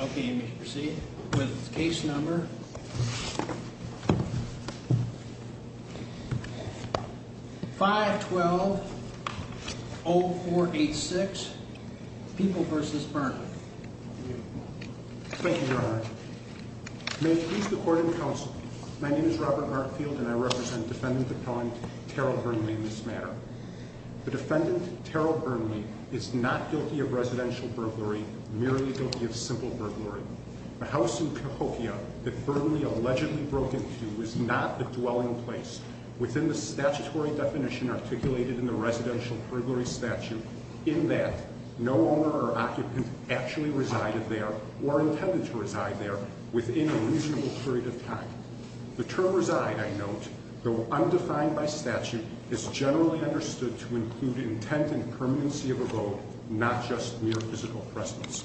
Okay, and we can proceed with case number 512-0486, People v. Burnley. Thank you, Your Honor. May it please the Court and Counsel, my name is Robert Markfield and I represent Defendant Appellant Terrell Burnley in this matter. The defendant, Terrell Burnley, is not guilty of residential burglary, merely guilty of simple burglary. The house in Cahokia that Burnley allegedly broke into is not a dwelling place within the statutory definition articulated in the residential burglary statute in that no owner or occupant actually resided there or intended to reside there within a reasonable period of time. The term reside, I note, though undefined by statute, is generally understood to include intent and permanency of abode, not just mere physical presence.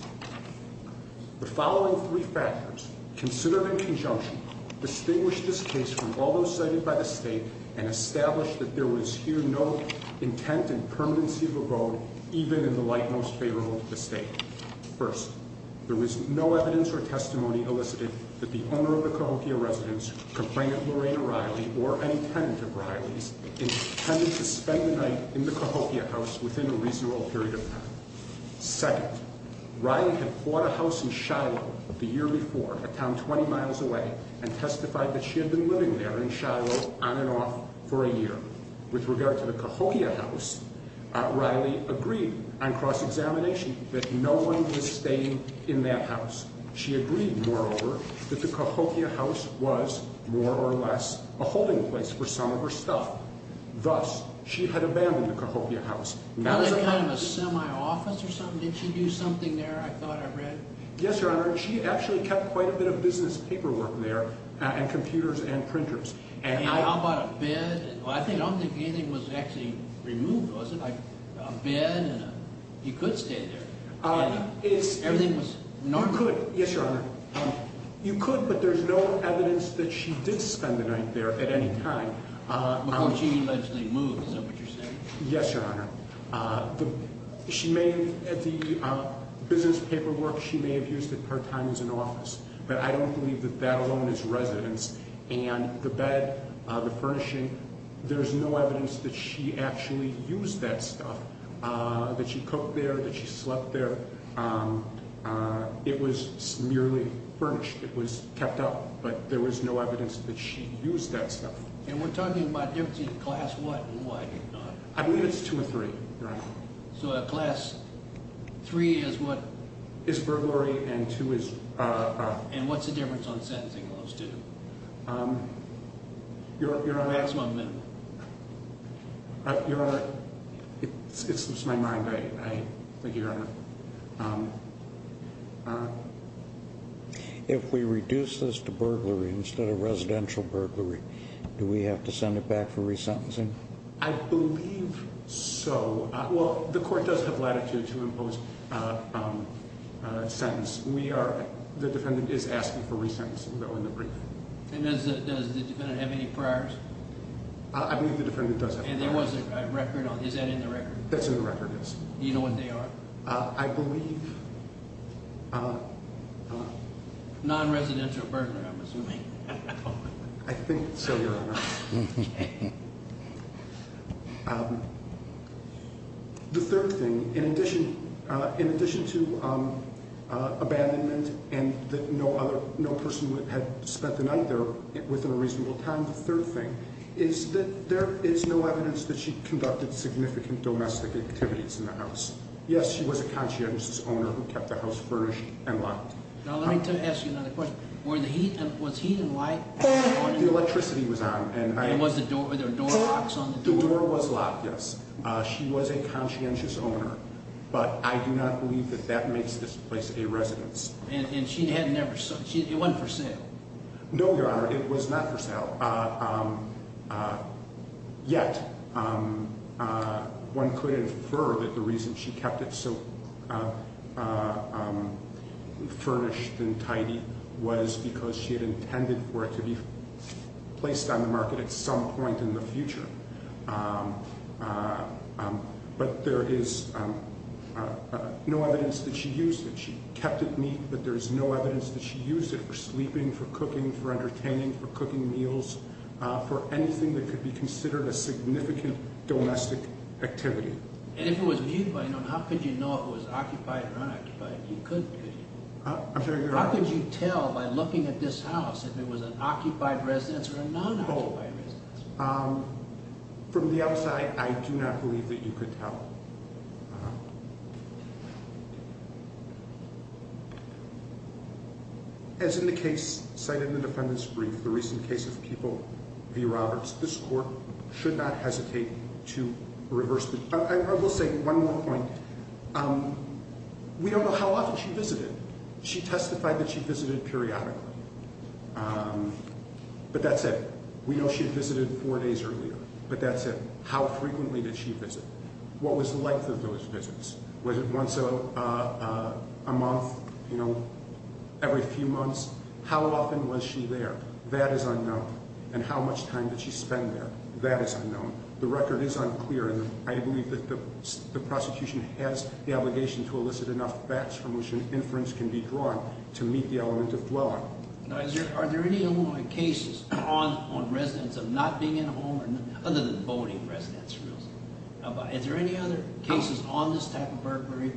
The following three factors, considered in conjunction, distinguish this case from all those cited by the State and establish that there was here no intent and permanency of abode even in the light most favorable to the State. First, there was no evidence or testimony elicited that the owner of the Cahokia residence, complainant Lorena Riley, or any tenant of Riley's intended to spend the night in the Cahokia house within a reasonable period of time. Second, Riley had bought a house in Shiloh the year before, a town 20 miles away, and testified that she had been living there in Shiloh on and off for a year. With regard to the Cahokia house, Riley agreed on cross-examination that no one was staying in that house. She agreed, moreover, that the Cahokia house was more or less a holding place for some of her stuff. Thus, she had abandoned the Cahokia house. Was it kind of a semi-office or something? Did she do something there, I thought I read? Yes, Your Honor. She actually kept quite a bit of business paperwork there and computers and printers. And how about a bed? I don't think anything was actually removed, was it? A bed? You could stay there. Everything was normal? Yes, Your Honor. You could, but there's no evidence that she did spend the night there at any time. But she allegedly moved, is that what you're saying? Yes, Your Honor. The business paperwork she may have used at her time as an office, but I don't believe that that alone is residence. And the bed, the furnishing, there's no evidence that she actually used that stuff, that she cooked there, that she slept there. It was merely furnished. It was kept up, but there was no evidence that she used that stuff. And we're talking about class what and what? I believe it's two or three, Your Honor. So class three is what? Is burglary and two is... And what's the difference on sentencing those two? Your Honor. Maximum and minimum. Your Honor, it slips my mind, I think, Your Honor. If we reduce this to burglary instead of residential burglary, do we have to send it back for resentencing? I believe so. Well, the court does have latitude to impose a sentence. The defendant is asking for resentencing, though, in the brief. And does the defendant have any priors? I believe the defendant does have priors. And there was a record on it. Is that in the record? That's in the record, yes. Do you know what they are? I believe... Non-residential burglary, I'm assuming. I think so, Your Honor. The third thing, in addition to abandonment and that no person had spent the night there within a reasonable time, the third thing is that there is no evidence that she conducted significant domestic activities in the house. Yes, she was a conscientious owner who kept the house furnished and locked. Now, let me ask you another question. Was he and why... The electricity was on and I... And was the door... Were there door locks on the door? The door was locked, yes. She was a conscientious owner, but I do not believe that that makes this place a residence. And she had never... It wasn't for sale? No, Your Honor, it was not for sale. Yet, one could infer that the reason she kept it so furnished and tidy was because she had intended for it to be placed on the market at some point in the future. But there is no evidence that she used it. She kept it neat, but there is no evidence that she used it for sleeping, for cooking, for entertaining, for cooking meals, for anything that could be considered a significant domestic activity. And if it was occupied, how could you know if it was occupied or unoccupied? You could tell. I'm sorry, Your Honor. How could you tell by looking at this house if it was an occupied residence or a non-occupied residence? From the outside, I do not believe that you could tell. As in the case cited in the defendant's brief, the recent case of People v. Roberts, this court should not hesitate to reverse the... I will say one more point. We don't know how often she visited. She testified that she visited periodically. But that's it. We know she visited four days earlier, but that's it. How frequently did she visit? What was the length of those visits? Was it once a month, every few months? How often was she there? That is unknown. And how much time did she spend there? That is unknown. The record is unclear, and I believe that the prosecution has the obligation to elicit enough facts from which an inference can be drawn to meet the element of dwelling. Now, are there any Illinois cases on residents of not being at home, other than voting residence rules? Is there any other cases on this type of burglary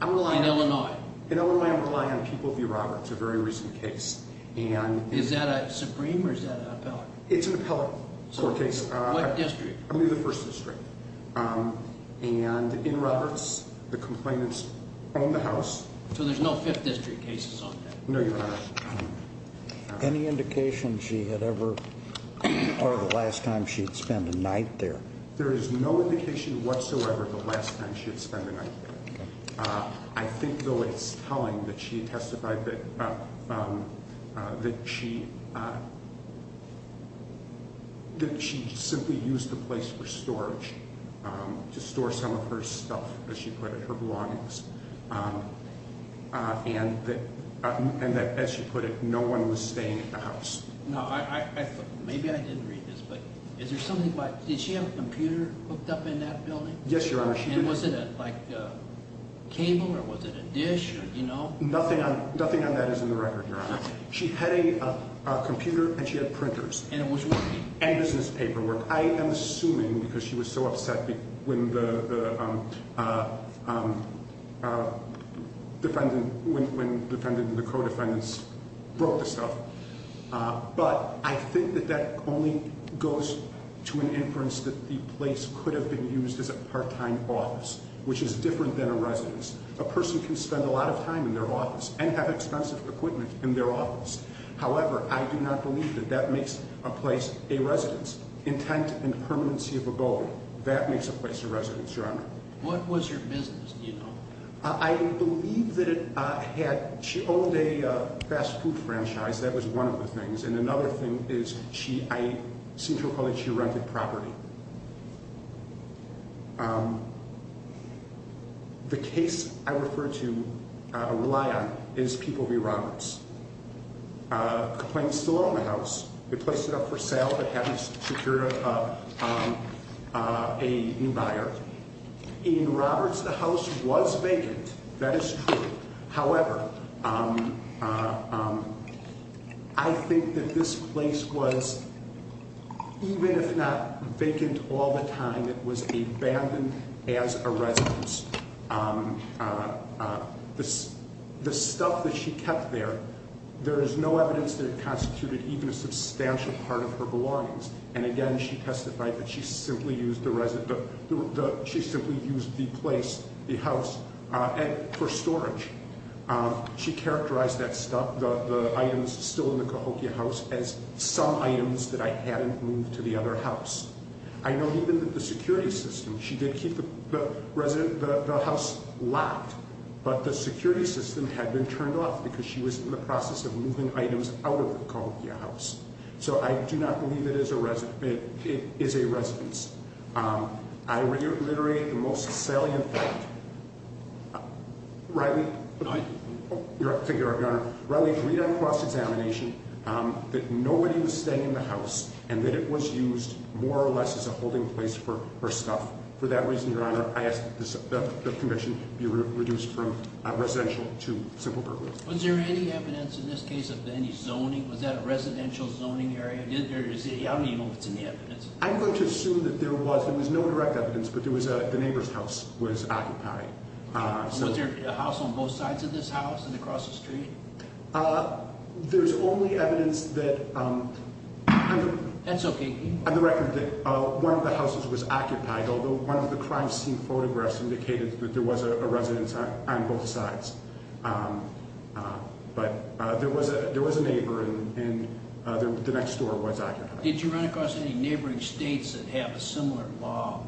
in Illinois? In Illinois, I'm relying on People v. Roberts, a very recent case. Is that a Supreme or is that an appellate? It's an appellate court case. What district? I'm in the First District. And in Roberts, the complainants own the house. So there's no Fifth District cases on that? No, Your Honor. Any indication she had ever or the last time she had spent a night there? There is no indication whatsoever of the last time she had spent a night there. I think, though, it's telling that she testified that she simply used the place for storage to store some of her stuff, as she put it, her belongings. And that, as she put it, no one was staying at the house. Now, maybe I didn't read this, but is there something about, did she have a computer hooked up in that building? Yes, Your Honor, she did. And was it like a cable or was it a dish or, you know? Nothing on that is in the record, Your Honor. She had a computer and she had printers. And it was working? And business paperwork. I am assuming because she was so upset when the defendant and the co-defendants broke the stuff. But I think that that only goes to an inference that the place could have been used as a part-time office, which is different than a residence. A person can spend a lot of time in their office and have expensive equipment in their office. However, I do not believe that that makes a place a residence. Intent and permanency of a goal, that makes a place a residence, Your Honor. What was your business, do you know? I believe that it had, she owned a fast food franchise. That was one of the things. And another thing is she, I seem to recall that she rented property. The case I refer to, rely on, is People v. Roberts. Complaints still own the house. We placed it up for sale but haven't secured a new buyer. In Roberts, the house was vacant. That is true. However, I think that this place was, even if not vacant all the time, it was abandoned as a residence. The stuff that she kept there, there is no evidence that it constituted even a substantial part of her belongings. And again, she testified that she simply used the place, the house, for storage. She characterized that stuff, the items still in the Cahokia house, as some items that I hadn't moved to the other house. I know even that the security system, she did keep the house locked. But the security system had been turned off because she was in the process of moving items out of the Cahokia house. So I do not believe it is a residence. I reiterate the most salient fact. Reilly? Aye. Your Honor, Reilly agreed on cross-examination that nobody was staying in the house and that it was used more or less as a holding place for her stuff. For that reason, Your Honor, I ask that the commission be reduced from residential to simple burglary. Was there any evidence in this case of any zoning? Was that a residential zoning area? I don't even know if it's in the evidence. I'm going to assume that there was. There was no direct evidence, but the neighbor's house was occupied. Was there a house on both sides of this house and across the street? There's only evidence that… That's okay. On the record that one of the houses was occupied, although one of the crime scene photographs indicated that there was a residence on both sides. But there was a neighbor and the next door was occupied. Did you run across any neighboring states that have a similar law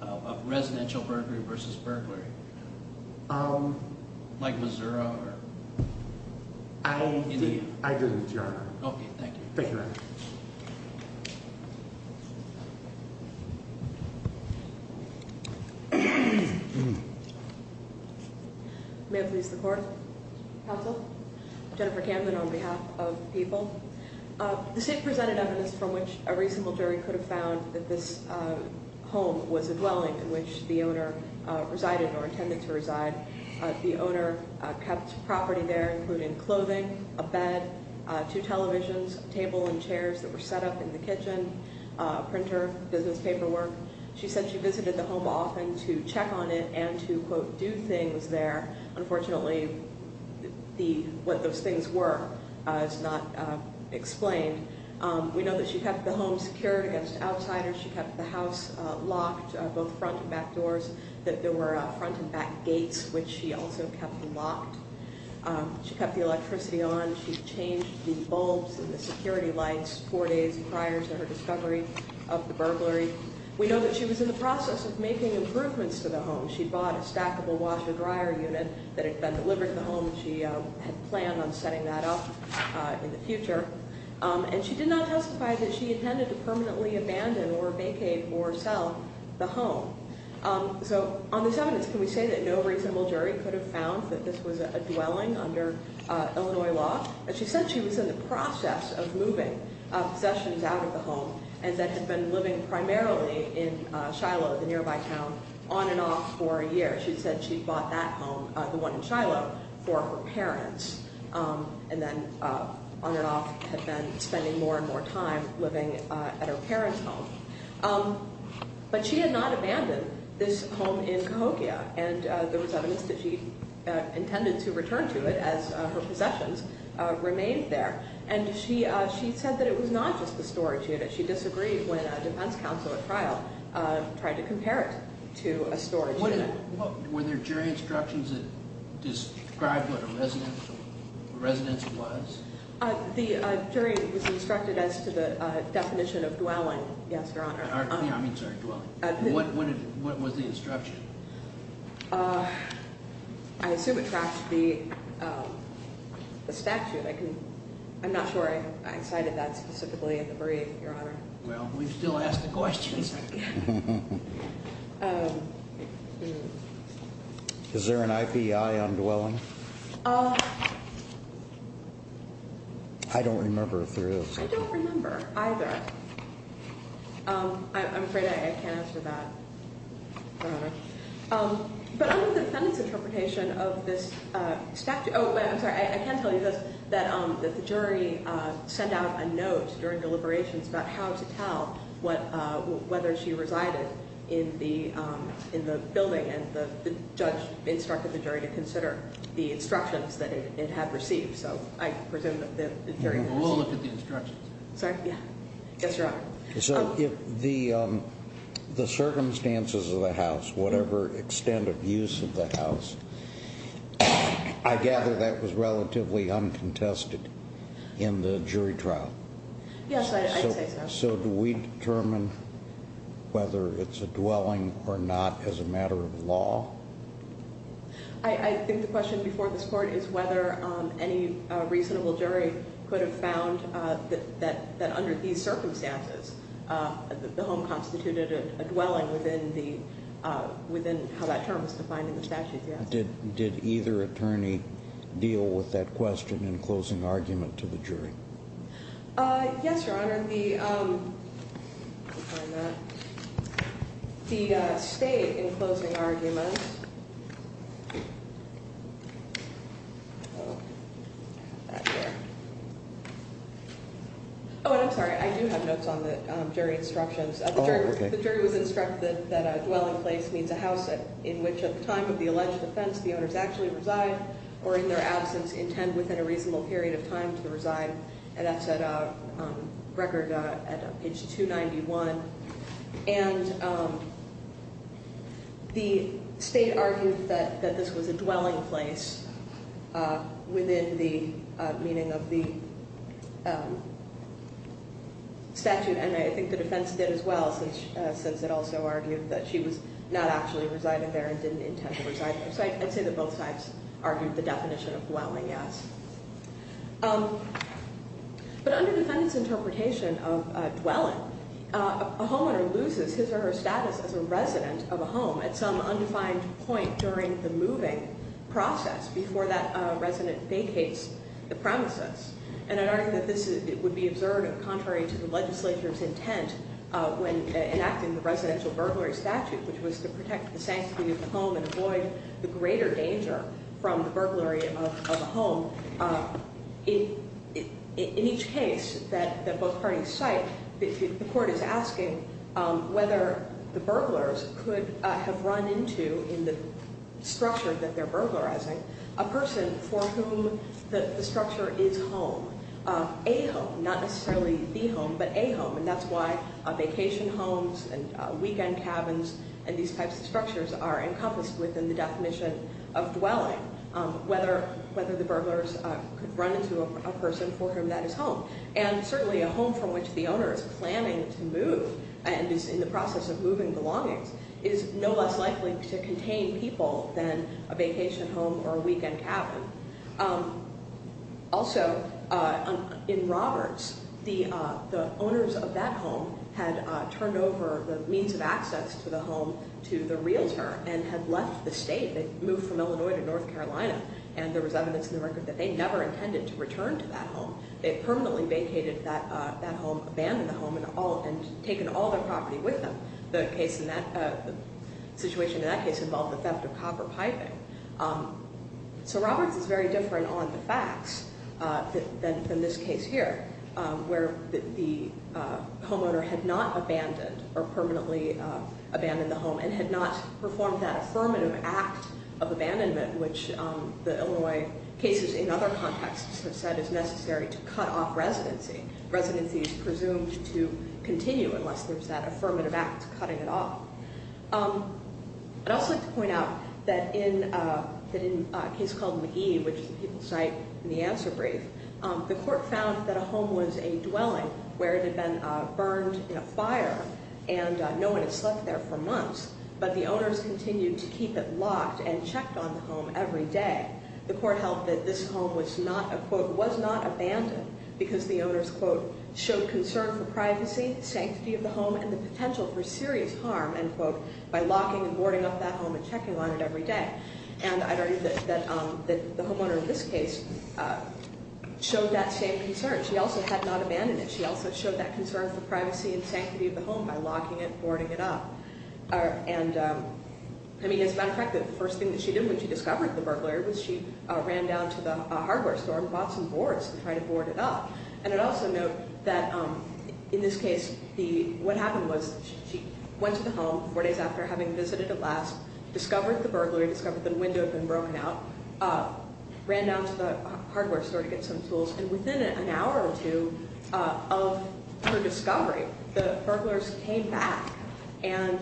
of residential burglary versus burglary? Like Missouri or India? I didn't, Your Honor. Thank you, Your Honor. May it please the Court? Counsel? Jennifer Camden on behalf of the people. The state presented evidence from which a reasonable jury could have found that this home was a dwelling in which the owner resided or intended to reside. The owner kept property there, including clothing, a bed, two televisions, a table and chairs that were set up in the area. She had a printer in the kitchen, a printer, business paperwork. She said she visited the home often to check on it and to, quote, do things there. Unfortunately, what those things were is not explained. We know that she kept the home secured against outsiders. She kept the house locked, both front and back doors, that there were front and back gates, which she also kept locked. She kept the electricity on. She changed the bulbs and the security lights four days prior to her discovery of the burglary. We know that she was in the process of making improvements to the home. She bought a stackable washer-dryer unit that had been delivered to the home. She had planned on setting that up in the future. And she did not testify that she intended to permanently abandon or vacate or sell the home. So on this evidence, can we say that no reasonable jury could have found that this was a dwelling under Illinois law? She said she was in the process of moving possessions out of the home and that had been living primarily in Shiloh, the nearby town, on and off for a year. She said she bought that home, the one in Shiloh, for her parents, and then on and off had been spending more and more time living at her parents' home. But she had not abandoned this home in Cahokia, and there was evidence that she intended to return to it as her possessions remained there. And she said that it was not just the storage unit. She disagreed when a defense counsel at trial tried to compare it to a storage unit. Were there jury instructions that described what a residence was? The jury was instructed as to the definition of dwelling, yes, Your Honor. I mean, sorry, dwelling. What was the instruction? I assume it tracks the statute. I'm not sure I cited that specifically in the brief, Your Honor. Well, we've still asked the questions. Is there an IPI on dwelling? I don't remember if there is. I don't remember either. I'm afraid I can't answer that, Your Honor. But under the defendant's interpretation of this statute, oh, I'm sorry, I can tell you this, that the jury sent out a note during deliberations about how to tell whether she resided in the building, and the judge instructed the jury to consider. The instructions that it had received. So I presume that it's very important. We'll look at the instructions. Sorry? Yeah. Yes, Your Honor. So if the circumstances of the house, whatever extent of use of the house, I gather that was relatively uncontested in the jury trial. Yes, I'd say so. So do we determine whether it's a dwelling or not as a matter of law? I think the question before this court is whether any reasonable jury could have found that under these circumstances, the home constituted a dwelling within how that term was defined in the statute. Did either attorney deal with that question in closing argument to the jury? Yes, Your Honor. The state in closing argument. Oh, I'm sorry. I do have notes on the jury instructions. The jury was instructed that a dwelling place means a house in which at the time of the alleged offense the owners actually reside or in their absence intend within a reasonable period of time to reside, and that's a record at page 291. And the state argued that this was a dwelling place within the meaning of the statute, and I think the defense did as well since it also argued that she was not actually residing there and didn't intend to reside there. So I'd say that both sides argued the definition of dwelling, yes. But under defendant's interpretation of dwelling, a homeowner loses his or her status as a resident of a home at some undefined point during the moving process before that resident vacates the premises. And I argue that this would be absurd and contrary to the legislature's intent when enacting the residential burglary statute, which was to protect the sanctity of the home and avoid the greater danger from the burglary of a home. In each case that both parties cite, the court is asking whether the burglars could have run into, in the structure that they're burglarizing, a person for whom the structure is home, a home, not necessarily the home, but a home. And that's why vacation homes and weekend cabins and these types of structures are encompassed within the definition of dwelling, whether the burglars could run into a person for whom that is home. And certainly a home from which the owner is planning to move and is in the process of moving belongings is no less likely to contain people than a vacation home or a weekend cabin. Also, in Roberts, the owners of that home had turned over the means of access to the home to the realtor and had left the state. They'd moved from Illinois to North Carolina, and there was evidence in the record that they never intended to return to that home. They had permanently vacated that home, abandoned the home, and taken all their property with them. The situation in that case involved the theft of copper piping. So Roberts is very different on the facts than in this case here, where the homeowner had not abandoned or permanently abandoned the home and had not performed that affirmative act of abandonment, which the Illinois cases in other contexts have said is necessary to cut off residency. Residency is presumed to continue unless there's that affirmative act cutting it off. I'd also like to point out that in a case called McGee, which the people cite in the answer brief, the court found that a home was a dwelling where it had been burned in a fire and no one had slept there for months, but the owners continued to keep it locked and checked on the home every day. The court held that this home was not abandoned because the owners showed concern for privacy, sanctity of the home, and the potential for serious harm by locking and boarding up that home and checking on it every day. And I'd argue that the homeowner in this case showed that same concern. She also had not abandoned it. She also showed that concern for privacy and sanctity of the home by locking it and boarding it up. As a matter of fact, the first thing that she did when she discovered the burglary was she ran down to the hardware store and bought some boards to try to board it up. And I'd also note that, in this case, what happened was she went to the home four days after having visited it last, discovered the burglary, discovered the window had been broken out, ran down to the hardware store to get some tools, and within an hour or two of her discovery, the burglars came back and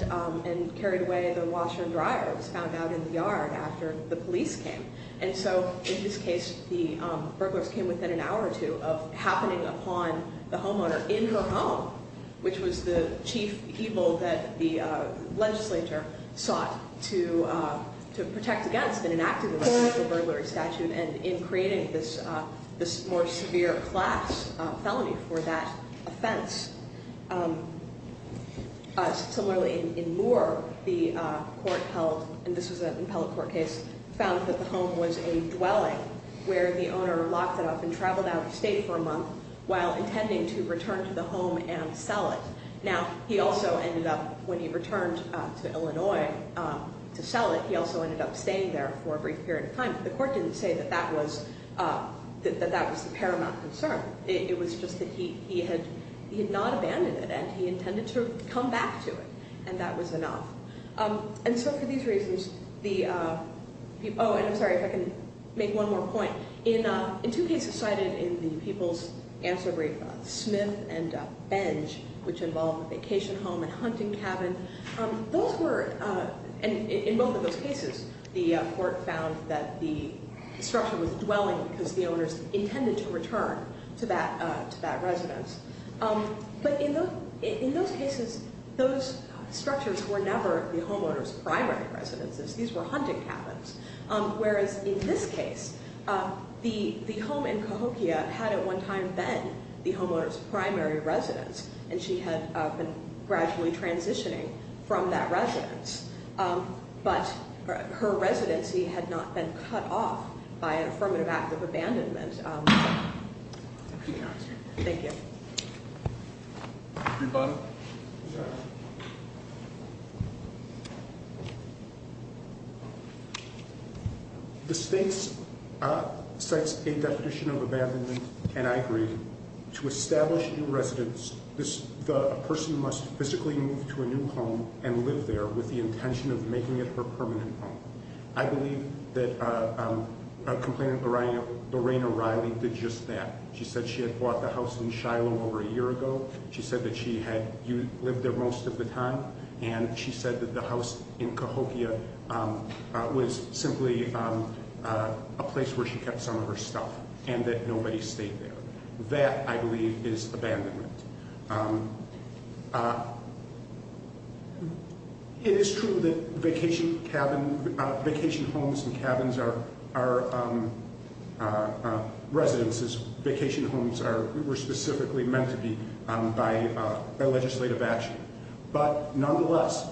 carried away the washer and dryer that was found out in the yard after the police came. And so, in this case, the burglars came within an hour or two of happening upon the homeowner in her home, which was the chief evil that the legislature sought to protect against in enacting the residential burglary statute and in creating this more severe class felony for that offense. Similarly, in Moore, the court held, and this was an appellate court case, found that the home was a dwelling where the owner locked it up and traveled out of state for a month while intending to return to the home and sell it. Now, he also ended up, when he returned to Illinois to sell it, he also ended up staying there for a brief period of time. But the court didn't say that that was the paramount concern. It was just that he had not abandoned it and he intended to come back to it, and that was enough. And so, for these reasons, the people – oh, and I'm sorry if I can make one more point. In two cases cited in the People's Answer Brief, Smith and Benj, which involved a vacation home and hunting cabin, those were – and in both of those cases, the court found that the structure was dwelling because the owners intended to return to that residence. But in those cases, those structures were never the homeowner's primary residences. These were hunting cabins. Whereas in this case, the home in Cahokia had at one time been the homeowner's primary residence, and she had been gradually transitioning from that residence. But her residency had not been cut off by an affirmative act of abandonment. Thank you. The state cites a definition of abandonment, and I agree. To establish a new residence, the person must physically move to a new home and live there with the intention of making it her permanent home. I believe that Complainant Lorraine O'Reilly did just that. She said she had bought the house in Shiloh over a year ago. She said that she had lived there most of the time, and she said that the house in Cahokia was simply a place where she kept some of her stuff and that nobody stayed there. That, I believe, is abandonment. It is true that vacation homes and cabins are residences. Vacation homes were specifically meant to be by legislative action. But nonetheless,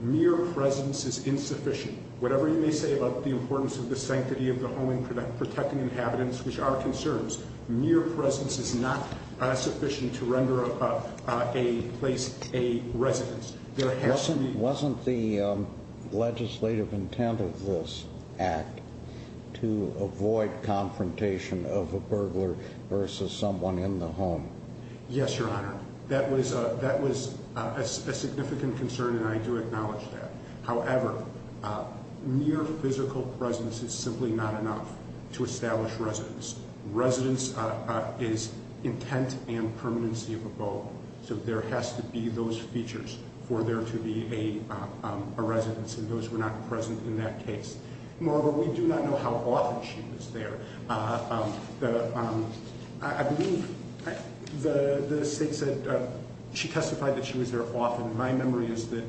mere presence is insufficient. Whatever you may say about the importance of the sanctity of the home and protecting inhabitants, which are concerns, mere presence is not sufficient to render a place a residence. There has to be Wasn't the legislative intent of this act to avoid confrontation of a burglar versus someone in the home? Yes, Your Honor. That was a significant concern, and I do acknowledge that. However, mere physical presence is simply not enough to establish residence. Residence is intent and permanency of a vote. So there has to be those features for there to be a residence, and those were not present in that case. Moreover, we do not know how often she was there. I believe the state said she testified that she was there often. My memory is that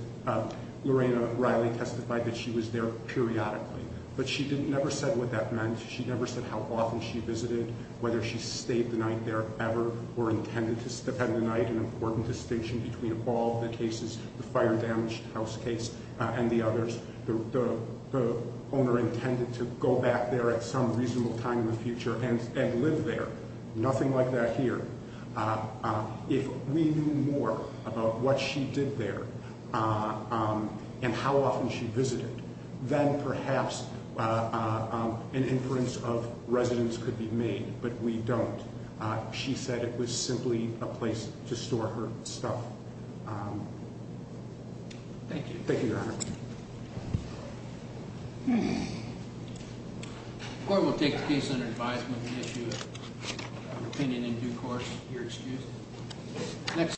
Lorraine O'Reilly testified that she was there periodically, but she never said what that meant. She never said how often she visited, whether she stayed the night there ever, or intended to spend the night. An important distinction between all the cases, the fire-damaged house case, and the others, the owner intended to go back there at some reasonable time in the future and live there. Nothing like that here. If we knew more about what she did there and how often she visited, then perhaps an inference of residence could be made, but we don't. She said it was simply a place to store her stuff. Thank you. Thank you, Your Honor. The court will take a case under advisement on the issue of opinion in due course, if you're excused.